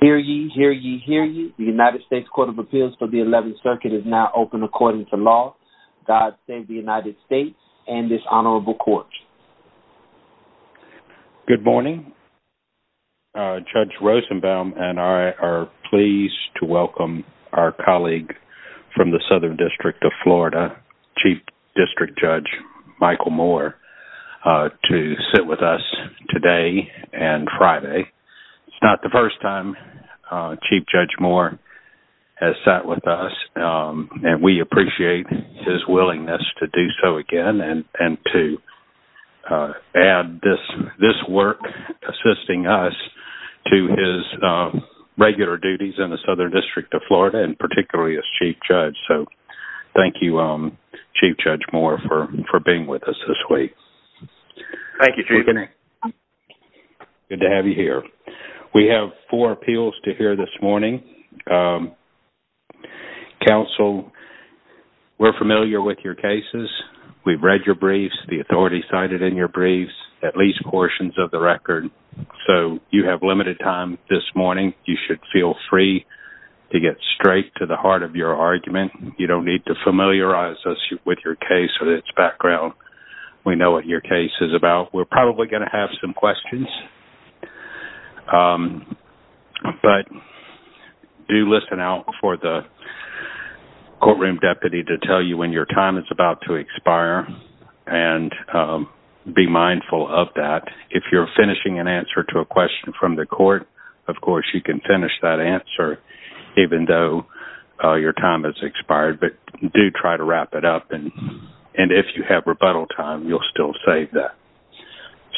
Hear ye, hear ye, hear ye. The United States Court of Appeals for the 11th Circuit is now open according to law. God save the United States and this honorable court. Good morning Judge Rosenbaum and I are pleased to welcome our colleague from the Southern District of Florida Chief District Judge Michael Moore to sit with us today and Friday. It's not the first time Chief Judge Moore has sat with us and we appreciate his willingness to do so again and and to add this this work assisting us to his regular duties in the Southern District of Florida and particularly as Chief Judge. So thank you Thank you, Chief. Good to have you here. We have four appeals to hear this morning. Counsel we're familiar with your cases. We've read your briefs, the authority cited in your briefs, at least portions of the record. So you have limited time this morning. You should feel free to get straight to the heart of your argument. You don't need to familiarize us with your case or its background. We know what your case is about. We're probably going to have some questions. But do listen out for the courtroom deputy to tell you when your time is about to expire and be mindful of that. If you're finishing an answer to a question from the court, of course, you can finish that answer even though your time has expired, but do try to wrap it up. And if you have rebuttal time, you'll still save that.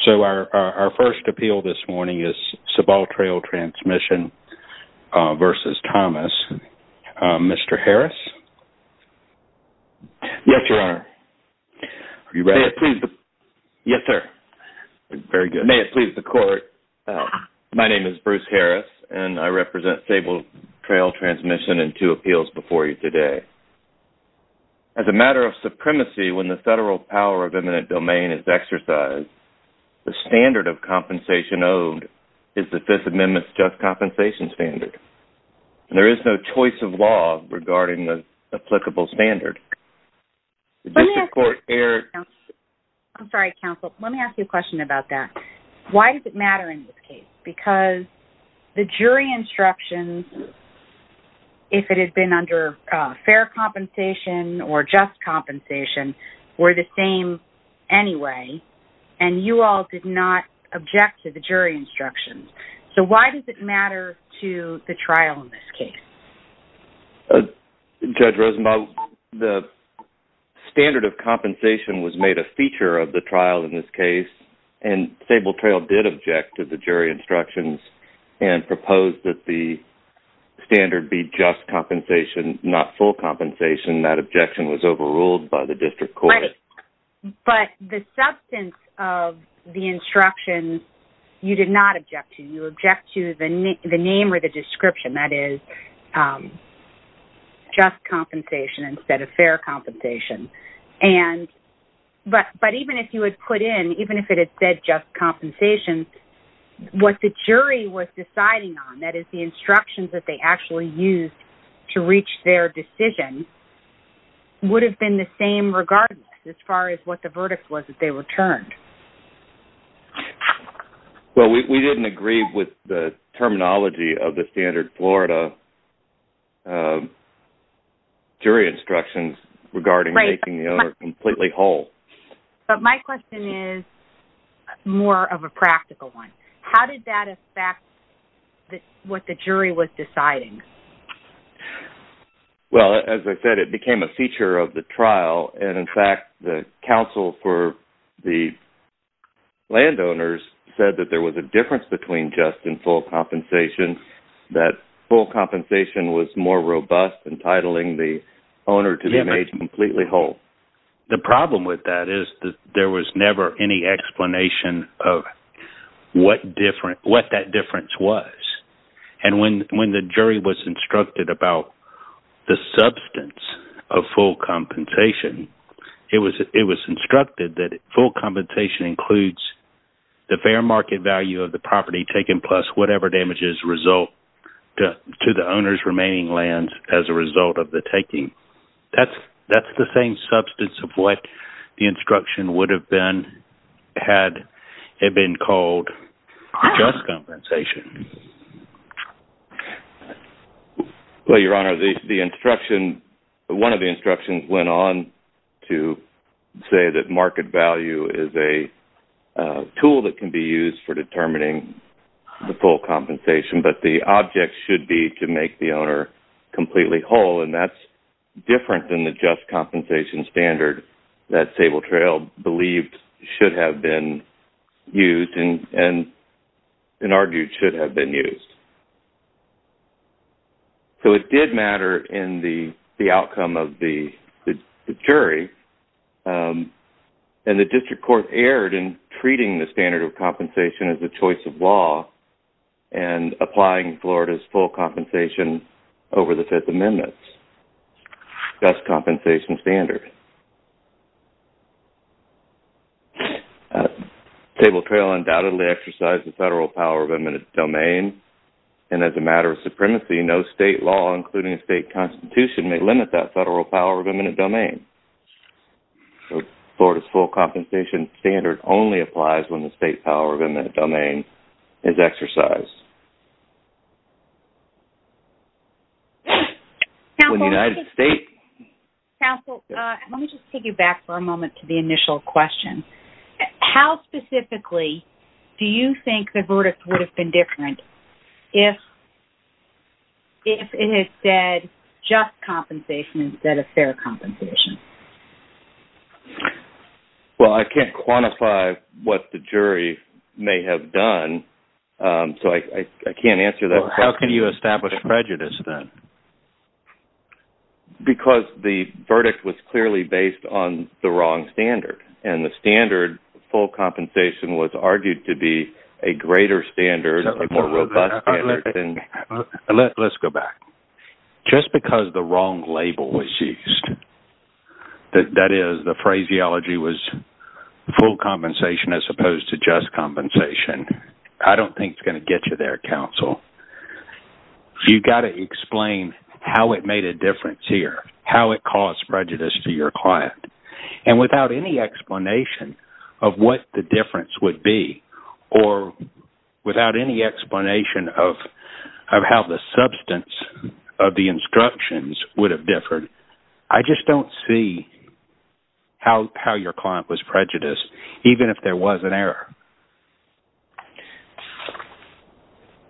So our first appeal this morning is Sabal Trail Transmission versus Thomas. Mr. Harris? Yes, Your Honor. Are you ready? Yes, sir. Very good. May it please the court. My name is Bruce Harris, and I represent Sabal Trail Transmission in two appeals before you today. As a matter of supremacy, when the federal power of eminent domain is exercised, the standard of compensation owed is the Fifth Amendment's just compensation standard. And there is no choice of law regarding the applicable standard. I'm sorry, counsel. Let me ask you a question about that. Why does it matter in this case? Because the jury instructions, if it had been under fair compensation or just compensation, were the same anyway, and you all did not object to the jury instructions. So why does it matter to the trial in this case? Judge Rosenbaum, the standard of compensation was made a feature of the trial in this case, and Sabal Trail did object to the jury instructions and proposed that the standard be just compensation, not full compensation. That objection was overruled by the district court. But the substance of the instructions, you did not object to. You object to the name or the description, that is just compensation instead of fair compensation. But even if you had put in, even if it had said just compensation, what the jury was deciding on, that is the instructions that they actually used to reach their decision, would have been the same regardless as far as what the verdict was that they returned. Well, we didn't agree with the terminology of the standard Florida jury instructions regarding making the owner completely whole. But my question is more of a practical one. How did that affect what the jury was deciding? Well, as I said, it became a feature of the trial, and in fact the counsel for the landowners said that there was a difference between just and full compensation, that full compensation was more robust, entitling the owner to be made completely whole. The problem with that is that there was never any explanation of what that difference was. And when the jury was instructed about the substance of full compensation, it was instructed that full compensation includes the fair market value of the property taken plus whatever damages result to the owner's remaining lands as a result of the taking. That's the same substance of what the instruction would have been had it been called just compensation. Well, Your Honor, the instruction, one of the instructions, went on to say that market value is a tool that can be used for determining the full compensation, but the object should be to make the owner completely whole, and that's different than the just compensation standard that Sable Trail believed should have been used and argued should have been used. So it did matter in the outcome of the jury, and the district court erred in treating the standard of compensation as a choice of law and applying Florida's full compensation over the Fifth Amendment's just compensation standard. Sable Trail undoubtedly exercised the federal power of eminent domain, and as a matter of supremacy, no state law, including a state constitution, may limit that federal power of eminent domain. So Florida's full compensation standard only applies when the state power of eminent domain is exercised. When the United States... Counsel, let me just take you back for a moment to the initial question. How specifically do you think the verdict would have been different if it had said just compensation instead of fair compensation? Well, I can't quantify what the jury may have done, so I can't answer that question. How can you establish prejudice then? Because the verdict was clearly based on the wrong standard, and the standard full compensation was argued to be a greater standard, a more robust standard than... Let's go back. Just because the wrong label was used, that is, the phraseology was full compensation as opposed to just compensation, I don't think it's going to get you there, counsel. You've got to explain how it made a difference here, how it caused prejudice to your client, and without any explanation of what the difference would be, or without any explanation of how the substance of the instructions would have differed, I just don't see how your client was prejudiced, even if there was an error.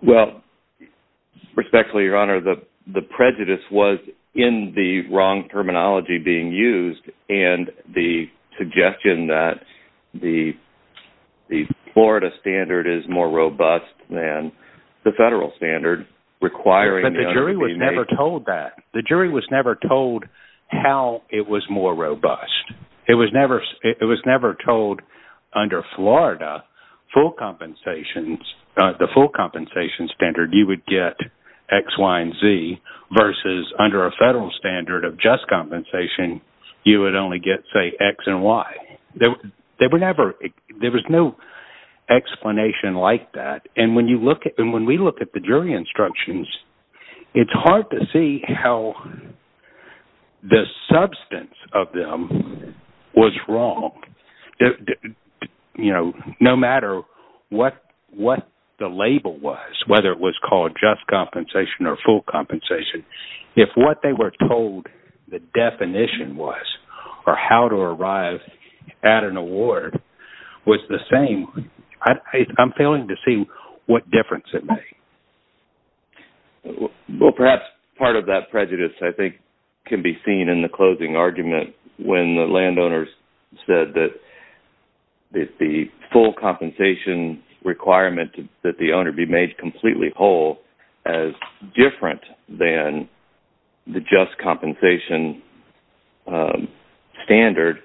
Well, respectfully, your honor, the prejudice was in the wrong terminology being used, and the suggestion that the Florida standard is more robust than the federal standard requiring... But the jury was never told that. The jury was never told how it was more robust. It was never told under Florida, full compensation, the full compensation standard, you would get X, Y, and Z, versus under a federal standard of just compensation, you would only get, say, X and Y. There was no explanation like that, and when we look at the jury instructions, it's hard to see how the substance of them was wrong. You know, no matter what the label was, whether it was called just compensation or full compensation, if what they were told the definition was, or how to arrive at an award, was the same, I'm failing to see what difference it made. Well, perhaps part of that prejudice, I think, can be seen in the closing argument when the landowners said that the full compensation requirement that the owner be made completely whole as different than the just compensation standard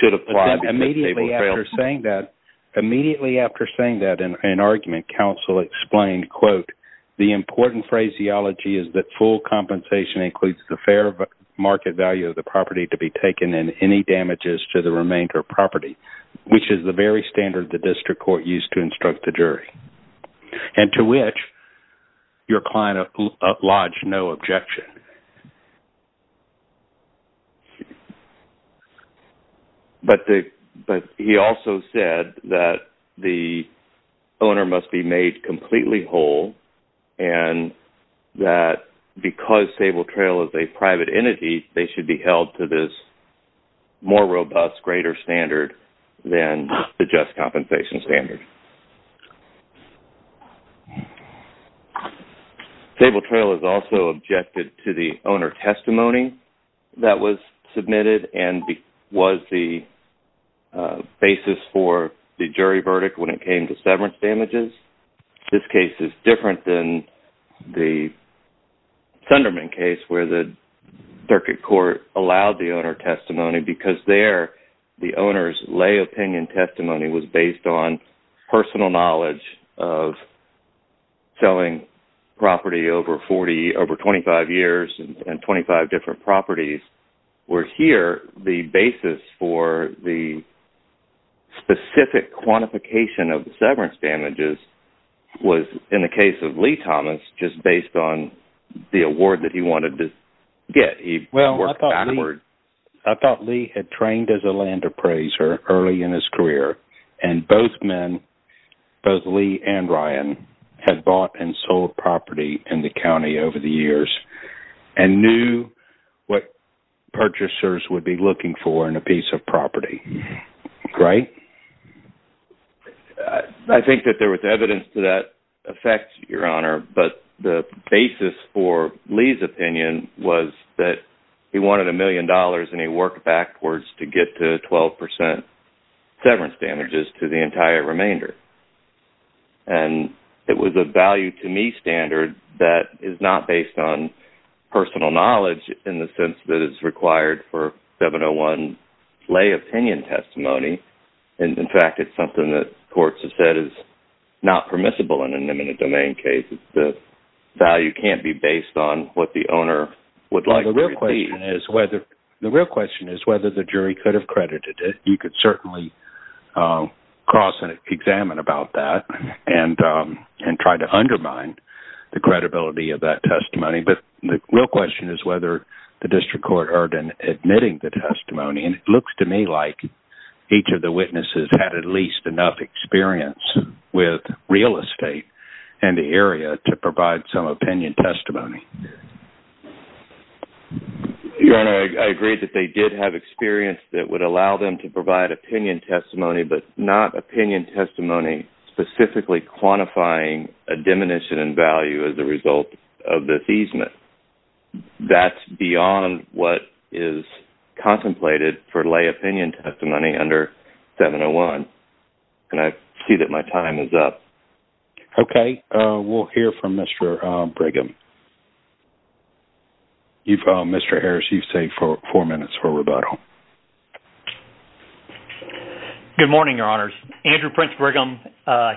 should apply because they were failed. Immediately after saying that, in an argument, counsel explained, quote, the important phraseology is that full compensation includes the fair market value of the property to be taken and any damages to the remainder of property, which is the very standard the district court used to instruct the jury, and to which your client lodged no objection. But he also said that the owner must be made completely whole and that because Sable Trail is a private entity, they should be held to this more robust greater standard than the just compensation standard. Sable Trail is also objected to the owner testimony that was submitted and was the basis for the jury verdict when it came to severance damages. This case is different than the Thunderman case where the circuit court allowed the owner testimony because there the owner's lay opinion testimony was based on personal knowledge of property over 25 years and 25 different properties, where here the basis for the specific quantification of severance damages was, in the case of Lee Thomas, just based on the award that he wanted to get. Well, I thought Lee had trained as a land appraiser early in his career and both men, both Lee and Ryan, had bought and sold property in the county over the years and knew what purchasers would be looking for in a piece of property. Right? I think that there was evidence to that effect, Your Honor, but the basis for Lee's opinion was that he wanted a million dollars and he worked backwards to get to 12% severance damages to the entire remainder and it was a value-to-me standard that is not based on personal knowledge in the sense that is required for 701 lay opinion testimony, and in fact, it's something that courts have said is not permissible in an imminent domain case. The value can't be based on what the owner would like to repeat. The real question is whether the jury could have credited it. You could certainly cross and examine about that and try to undermine the credibility of that testimony, but the real question is whether the district court heard in admitting the testimony, and it looks to me like each of the witnesses had at least enough experience with real estate in the area to provide some opinion testimony. Your Honor, I agree that they did have experience that would allow them to provide opinion testimony, but not opinion testimony specifically quantifying a diminution in value as a result of the thesement. That's beyond what is contemplated for lay opinion testimony under 701, and I see that my time is up. Okay, we'll hear from Mr. Brigham. Mr. Harris, you've saved four minutes for rebuttal. Good morning, Your Honors. Andrew Prince Brigham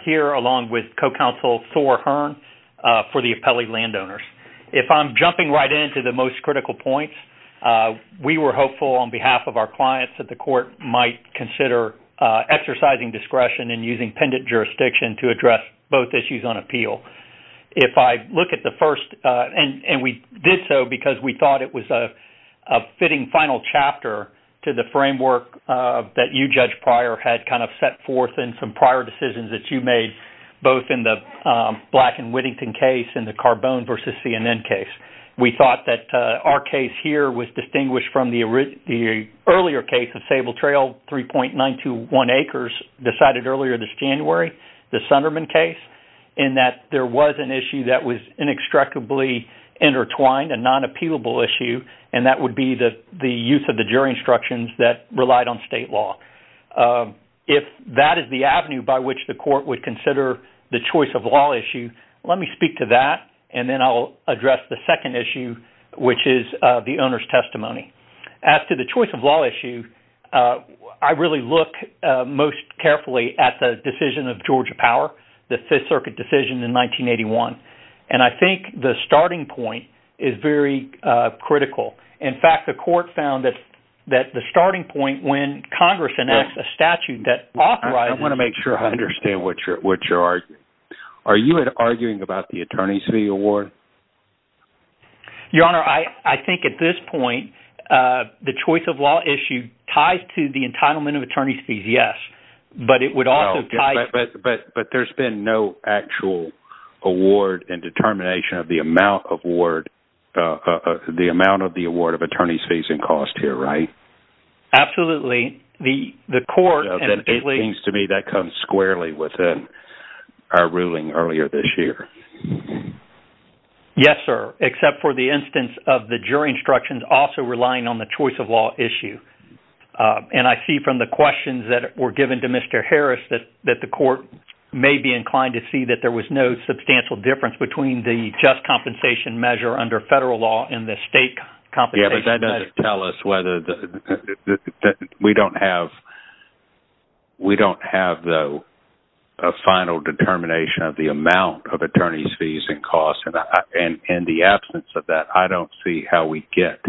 here along with co-counsel Thor Hearn for the appellee landowners. If I'm jumping right into the most critical points, we were hopeful on behalf of our clients that the court might consider exercising discretion and using pendant jurisdiction to address both issues on appeal. If I look at the first, and we did so because we thought it was a fitting final chapter to the framework that you, Judge Pryor, had kind of set forth in some prior decisions that you made both in the Black and Whittington case and the Carbone versus CNN case. We thought that our case here was distinguished from the earlier case of Sable Trail 3.921 acres decided earlier this January, the Sunderman case, in that there was an issue that was inextricably intertwined, a non-appealable issue, and that would be the the use of the jury instructions that relied on state law. If that is the avenue by which the court would consider the choice of law issue, let me speak to that, and then I'll address the second issue, which is the owner's testimony. As to the choice of law issue, I really look most carefully at the decision of Georgia Power, the Fifth Circuit decision in 1981, and I think the starting point is very critical. In fact, the court found that the starting point when Congress enacts a statute that authorizes... I want to make sure I understand what you're arguing. Are you arguing about the attorney's fee award? Your Honor, I think at this point, the choice of law issue ties to the entitlement of attorney's fees, yes, but it would also tie... But there's been no actual award and determination of the amount of award, the amount of the award of attorney's fees and cost here, right? Absolutely. The court... It seems to me that comes squarely within our ruling earlier this year. Yes, sir, except for the instance of the jury instructions also relying on the choice of law issue. And I see from the questions that were given to Mr. Harris that that the court may be inclined to see that there was no substantial difference between the just compensation measure under federal law and the state compensation measure. Yeah, but that doesn't tell us whether... We don't have... We don't have, though, a determination of attorney's fees and cost, and in the absence of that, I don't see how we get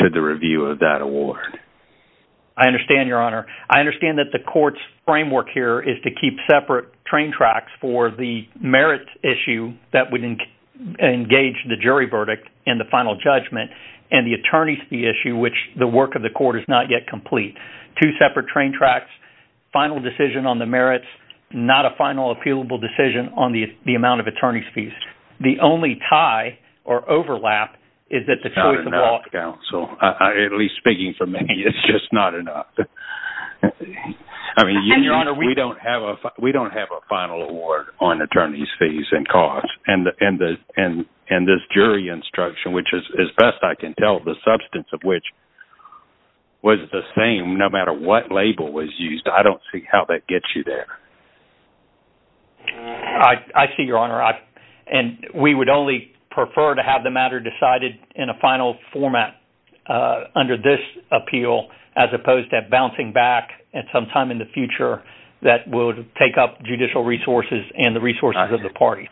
to the review of that award. I understand, Your Honor. I understand that the court's framework here is to keep separate train tracks for the merit issue that would engage the jury verdict in the final judgment and the attorney's fee issue, which the work of the court is not yet complete. Two separate train tracks, final decision on the merits, not a final appealable decision on the amount of attorney's fees. The only tie or overlap is that the choice of law... It's not enough, counsel. At least speaking for me, it's just not enough. I mean, Your Honor, we don't have a final award on attorney's fees and cost, and this jury instruction, which is, as best I can tell, the substance of which was the same no matter what label was used. I don't see how that gets you there. I see, Your Honor, and we would only prefer to have the matter decided in a final format under this appeal, as opposed to bouncing back at some time in the future that would take up judicial resources and the resources of the party.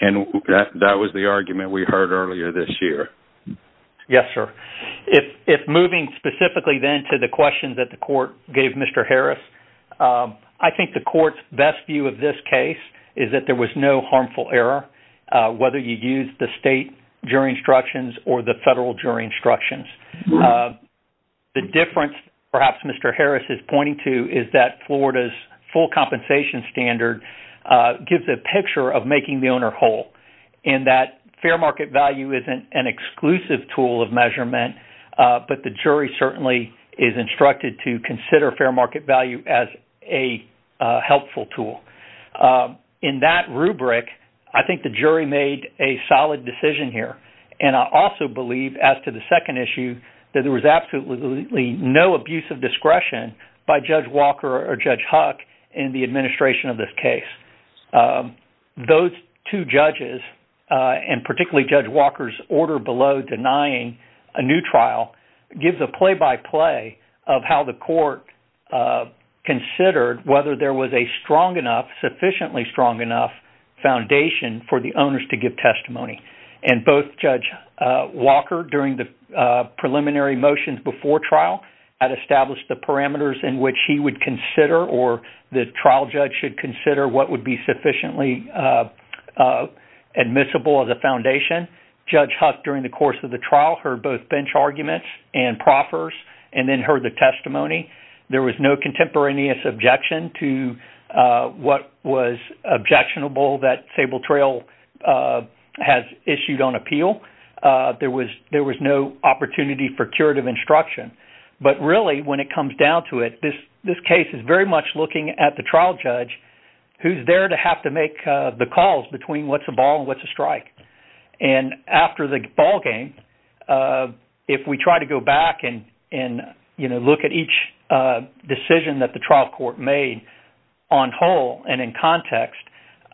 And that was the argument we heard earlier this year. Yes, sir. If moving specifically then to the questions that the court gave Mr. Harris, I think the court's best view of this case is that there was no harmful error, whether you use the state jury instructions or the federal jury instructions. The difference, perhaps Mr. Harris is pointing to, is that Florida's full compensation standard gives a picture of making the owner whole, and that fair market value isn't an exclusive tool of measurement, but the jury certainly is instructed to consider fair market value as a helpful tool. In that rubric, I think the jury made a solid decision here, and I also believe, as to the second issue, that there was absolutely no abuse of discretion by Judge Walker or Judge Huck in the administration of this case. Those two judges, and particularly Judge Walker's order below denying a new trial, gives a play-by-play of how the court considered whether there was a strong enough, sufficiently strong enough, foundation for the owners to give testimony. And both Judge Walker, during the court trial, had established the parameters in which he would consider, or the trial judge should consider, what would be sufficiently admissible as a foundation. Judge Huck, during the course of the trial, heard both bench arguments and proffers, and then heard the testimony. There was no contemporaneous objection to what was objectionable that Sable Trail has issued on appeal. There was no opportunity for curative instruction. But really, when it comes down to it, this case is very much looking at the trial judge who's there to have to make the calls between what's a ball and what's a strike. And after the ballgame, if we try to go back and, you know, look at each decision that the trial court made on whole and in context,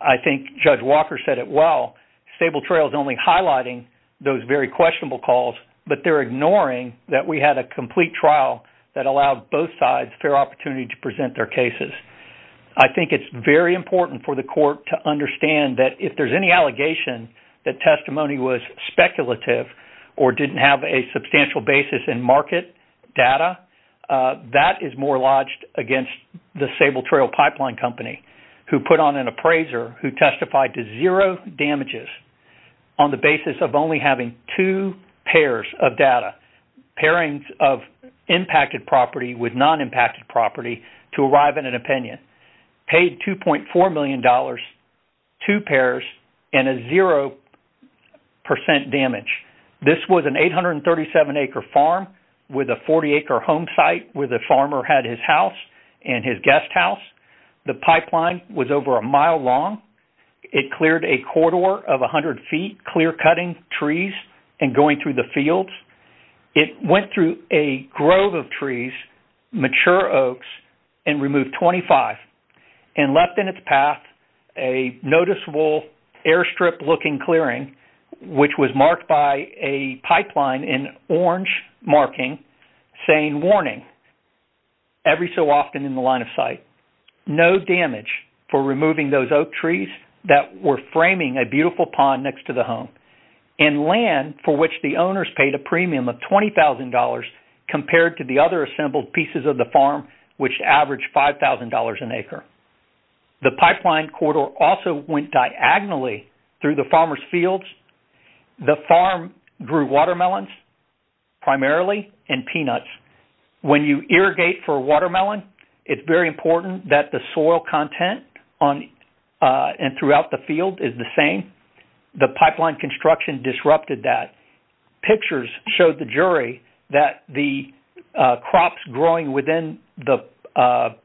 I think Judge Walker said it well. Sable Trail is only highlighting those very questionable calls, but they're ignoring that we had a complete trial that allowed both sides fair opportunity to present their cases. I think it's very important for the court to understand that if there's any allegation that testimony was speculative or didn't have a substantial basis in market data, that is more lodged against the Sable Trail Pipeline Company, who put on an appraiser who testified to zero damages on the basis of only having two pairs of data, pairings of impacted property with non-impacted property to arrive at an opinion, paid 2.4 million dollars, two pairs, and a zero percent damage. This was an 837 acre farm with a 40 acre home site where the farmer had his house and his guest house. The pipeline was over a mile long. It cleared a corridor of a hundred feet, clear-cutting trees and going through the fields. It went through a grove of trees, mature oaks, and removed 25 and left in its path a noticeable airstrip looking clearing, which was marked by a pipeline in orange marking saying warning every so often in the line of sight. No damage for removing those oak trees that were framing a beautiful pond next to the home and land for which the owners paid a premium of $20,000 compared to the other assembled pieces of the farm, which averaged $5,000 an acre. The pipeline corridor also went diagonally through the farmers fields. The farm grew watermelons, primarily, and peanuts. When you irrigate for a watermelon, it's very important that the soil content on and throughout the field is the same. The pipeline construction disrupted that. Pictures showed the jury that the crops growing within the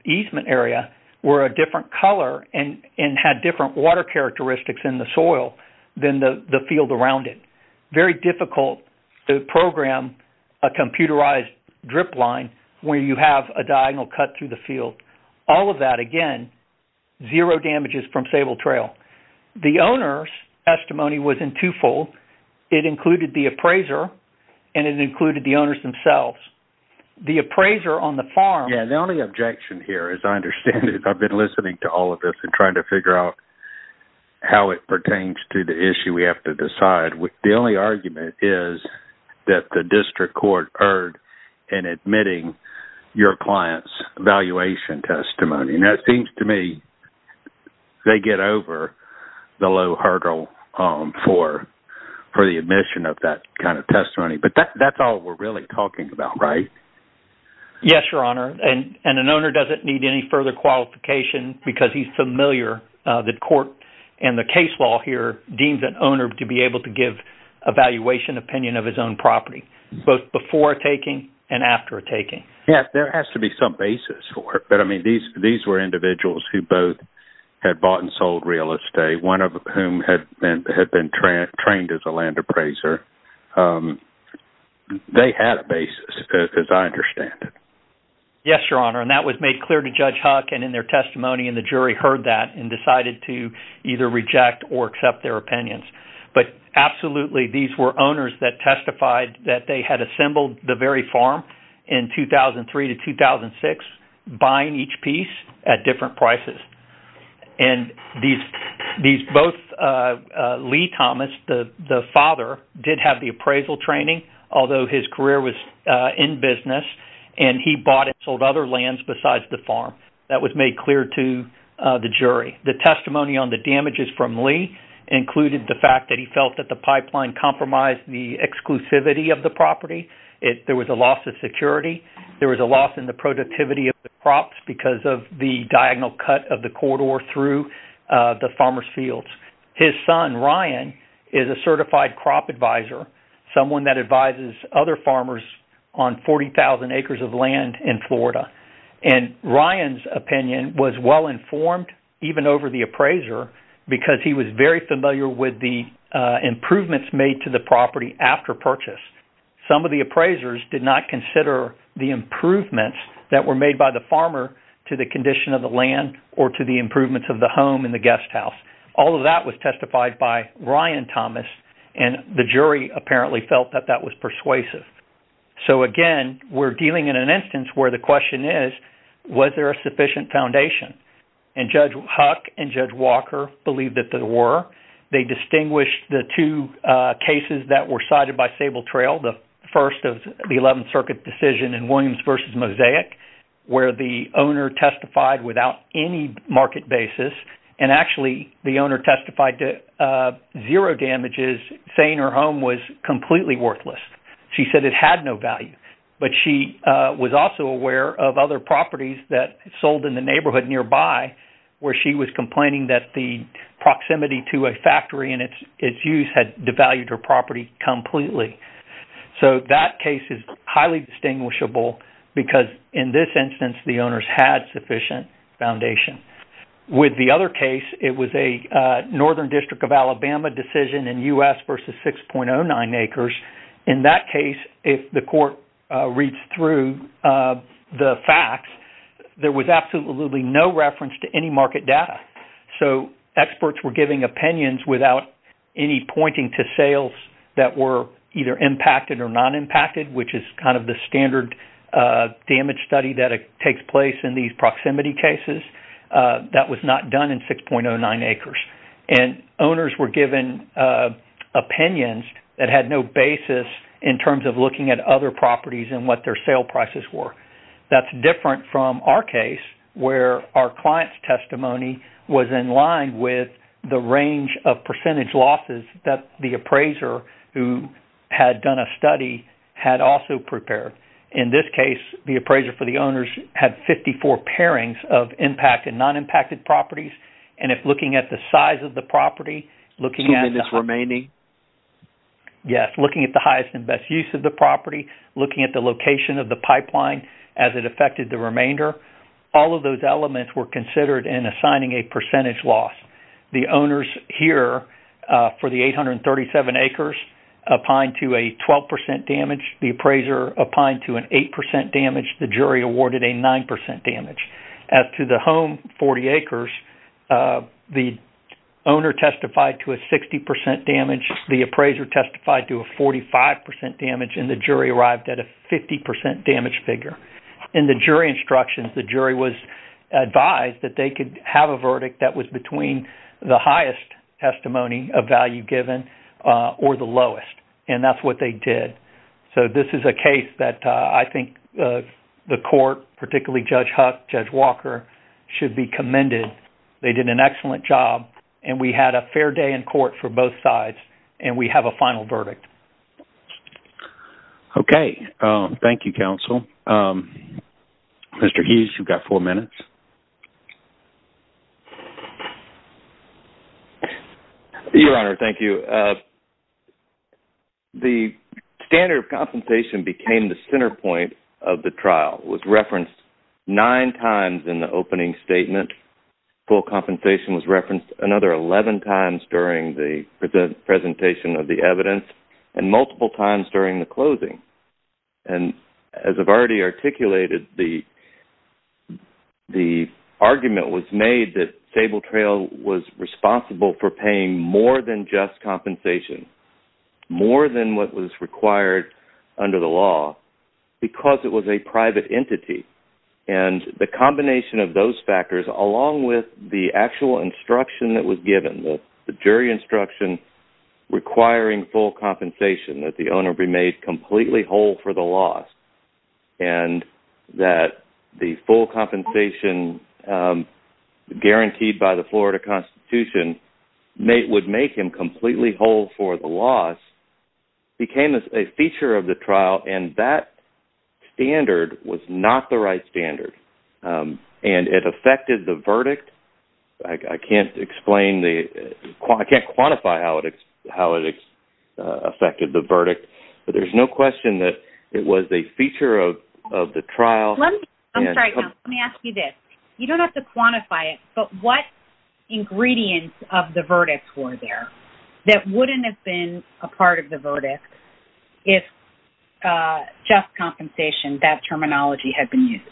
easement area were a different color and and had different water characteristics in the soil than the the field around it. Very difficult to program a computerized drip line where you have a diagonal cut through the field. All of that, again, zero damages from Sable Trail. The owner's testimony was in two-fold. It included the appraiser, and it included the owners themselves. The appraiser on the farm... Yeah, the only objection here, as I understand it, I've been listening to all of this and trying to figure out how it pertains to the issue we have to decide. The only argument is that the district court erred in admitting your client's evaluation testimony. That seems to me they get over the low hurdle for the admission of that kind of testimony, but that's all we're really talking about, right? Yes, Your Honor, and an owner doesn't need any further qualification because he's familiar that court and the case law here deems an owner to be able to give an evaluation opinion of his own property, both before taking and after taking. Yes, there has to be some basis for it, but, I mean, these were individuals who both had bought and sold real estate, one of whom had been trained as a land appraiser. They had a basis, as I understand it. Yes, Your Honor, and that was made clear to Judge Huck, and in their testimony, and the jury heard that and decided to either reject or accept their opinions, but absolutely, these were owners that testified that they had assembled the very farm in 2003 to 2006, buying each piece at different prices, and these both Lee Thomas, the father, did have the appraisal training, although his career was in business, and he bought and sold other lands besides the farm. That was made clear to the jury. The testimony on the damages from Lee included the fact that he felt that the pipeline compromised the exclusivity of the property. There was a loss of security. There was a loss in the productivity of the crops because of the diagonal cut of the corridor through the farmer's fields. His son, Ryan, is a certified crop advisor, someone that advises other farmers on 40,000 acres of land in Florida, and he was very familiar with the improvements made to the property after purchase. Some of the appraisers did not consider the improvements that were made by the farmer to the condition of the land or to the improvements of the home in the guest house. All of that was testified by Ryan Thomas, and the jury apparently felt that that was persuasive. So again, we're dealing in an instance where the question is, was there a sufficient foundation? And Judge Huck and Judge Walker believed that there were. They distinguished the two cases that were cited by Sable Trail, the first of the 11th Circuit decision in Williams v. Mosaic, where the owner testified without any market basis, and actually the owner testified to zero damages, saying her home was completely worthless. She said it had no value, but she was also aware of other properties that sold in the neighborhood nearby where she was complaining that the proximity to a factory and its use had devalued her property completely. So that case is highly distinguishable because in this instance, the owners had sufficient foundation. With the other case, it was a Northern District of Alabama decision in U.S. v. 6.09 acres. In that case, if the court reads through the facts, there was absolutely no reference to any market data. So experts were giving opinions without any pointing to sales that were either impacted or non-impacted, which is kind of the standard damage study that takes place in these proximity cases. That was not done in 6.09 acres, and owners were given opinions that had no basis in terms of looking at other properties and what their sale prices were. That's different from our case, where our client's testimony was in line with the range of percentage losses that the appraiser who had done a study had also prepared. In this case, the appraiser for the owners had 54 pairings of impact and non-impacted properties, and if looking at the size of the property, looking at this remaining... of the pipeline as it affected the remainder, all of those elements were considered in assigning a percentage loss. The owners here for the 837 acres opined to a 12% damage, the appraiser opined to an 8% damage, the jury awarded a 9% damage. As to the home, 40 acres, the owner testified to a 60% damage, the appraiser testified to a 45% damage, and the jury arrived at a 50% damage figure. In the jury instructions, the jury was advised that they could have a verdict that was between the highest testimony of value given or the lowest, and that's what they did. So this is a case that I think the court, particularly Judge Huck, Judge Walker, should be commended. They did an excellent job, and we had a fair day in court for both sides, and we have a final verdict. Okay. Thank you, counsel. Mr. Hughes, you've got four minutes. Your Honor, thank you. The standard of compensation became the center point of the trial. It was referenced nine times in the opening statement. Full compensation was referenced another 11 times during the presentation of the evidence, and multiple times during the closing. And as I've already articulated, the argument was made that Sable Trail was responsible for paying more than just compensation, more than what was required under the law, because it was a private entity. And the combination of those factors, along with the actual instruction that was given, the jury instruction, requiring full compensation, that the owner be made completely whole for the loss, and that the full compensation guaranteed by the Florida Constitution would make him completely whole for the loss, became a feature of the trial. And that standard was not the right standard, and it affected the verdict. I can't quantify how it affected the verdict, but there's no question that it was a feature of the trial. Let me ask you this. You don't have to quantify it, but what ingredients of the verdict were there that wouldn't have been a part of the verdict if just compensation, that terminology, had been used?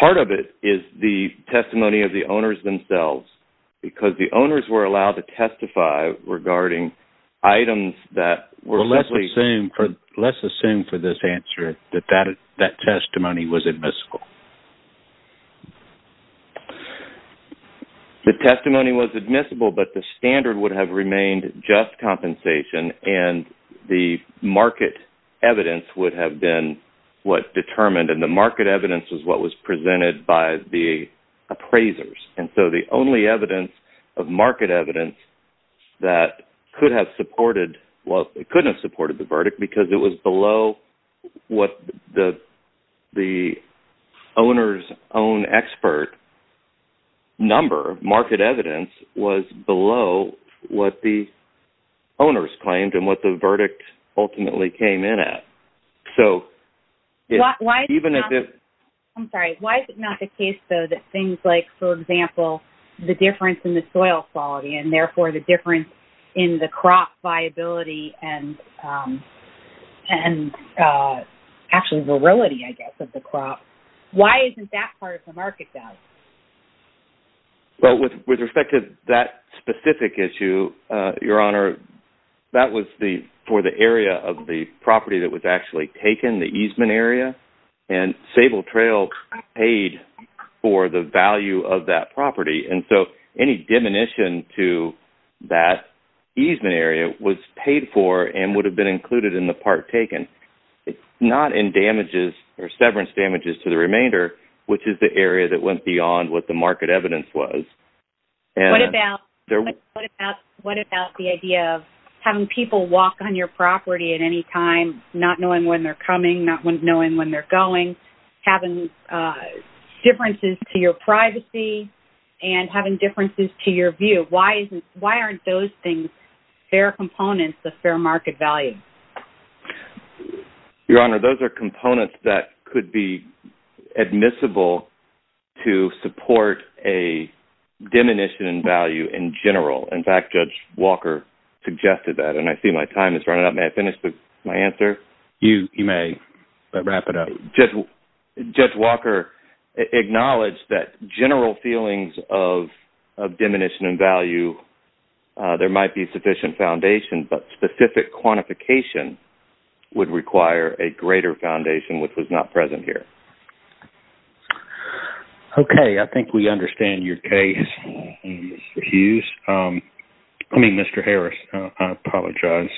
Part of it is the testimony of the owners themselves, because the owners were allowed to testify regarding items that were... Well, let's assume for this answer that that testimony was admissible. The testimony was admissible, but the standard would have remained just compensation, and the market evidence was what was presented by the appraisers. And so the only evidence of market evidence that could have supported... Well, it couldn't have supported the verdict, because it was below what the the owner's own expert number, market evidence, was below what the owners claimed, and what the verdict ultimately came in at. So... Even if... I'm sorry. Why is it not the case, though, that things like, for example, the difference in the soil quality, and therefore the difference in the crop viability, and actually, virility, I guess, of the crop... Why isn't that part of the market doubt? Well, with respect to that specific issue, Your Honor, that was for the area of the property that was actually taken, the easement area. And Sable Trail paid for the value of that property, and so any diminution to that easement area was paid for and would have been included in the part taken. Not in damages or severance damages to the remainder, which is the area that went beyond what the market evidence was. And... What about... What about the idea of having people walk on your property at any time, not knowing when they're coming, not knowing when they're going, having differences to your privacy, and having differences to your view? Why isn't... Why aren't those things fair components of fair market value? Your Honor, those are components that could be admissible to support a diminution in value in general. In fact, Judge Walker suggested that, and I see my time is running out. May I finish my answer? You may, but wrap it up. Judge Walker acknowledged that general feelings of diminution in value, there might be sufficient foundation, but specific quantification would require a greater foundation, which was not present here. Okay, I think we understand your case, Mr. Hughes. I mean, Mr. Harris. I apologize.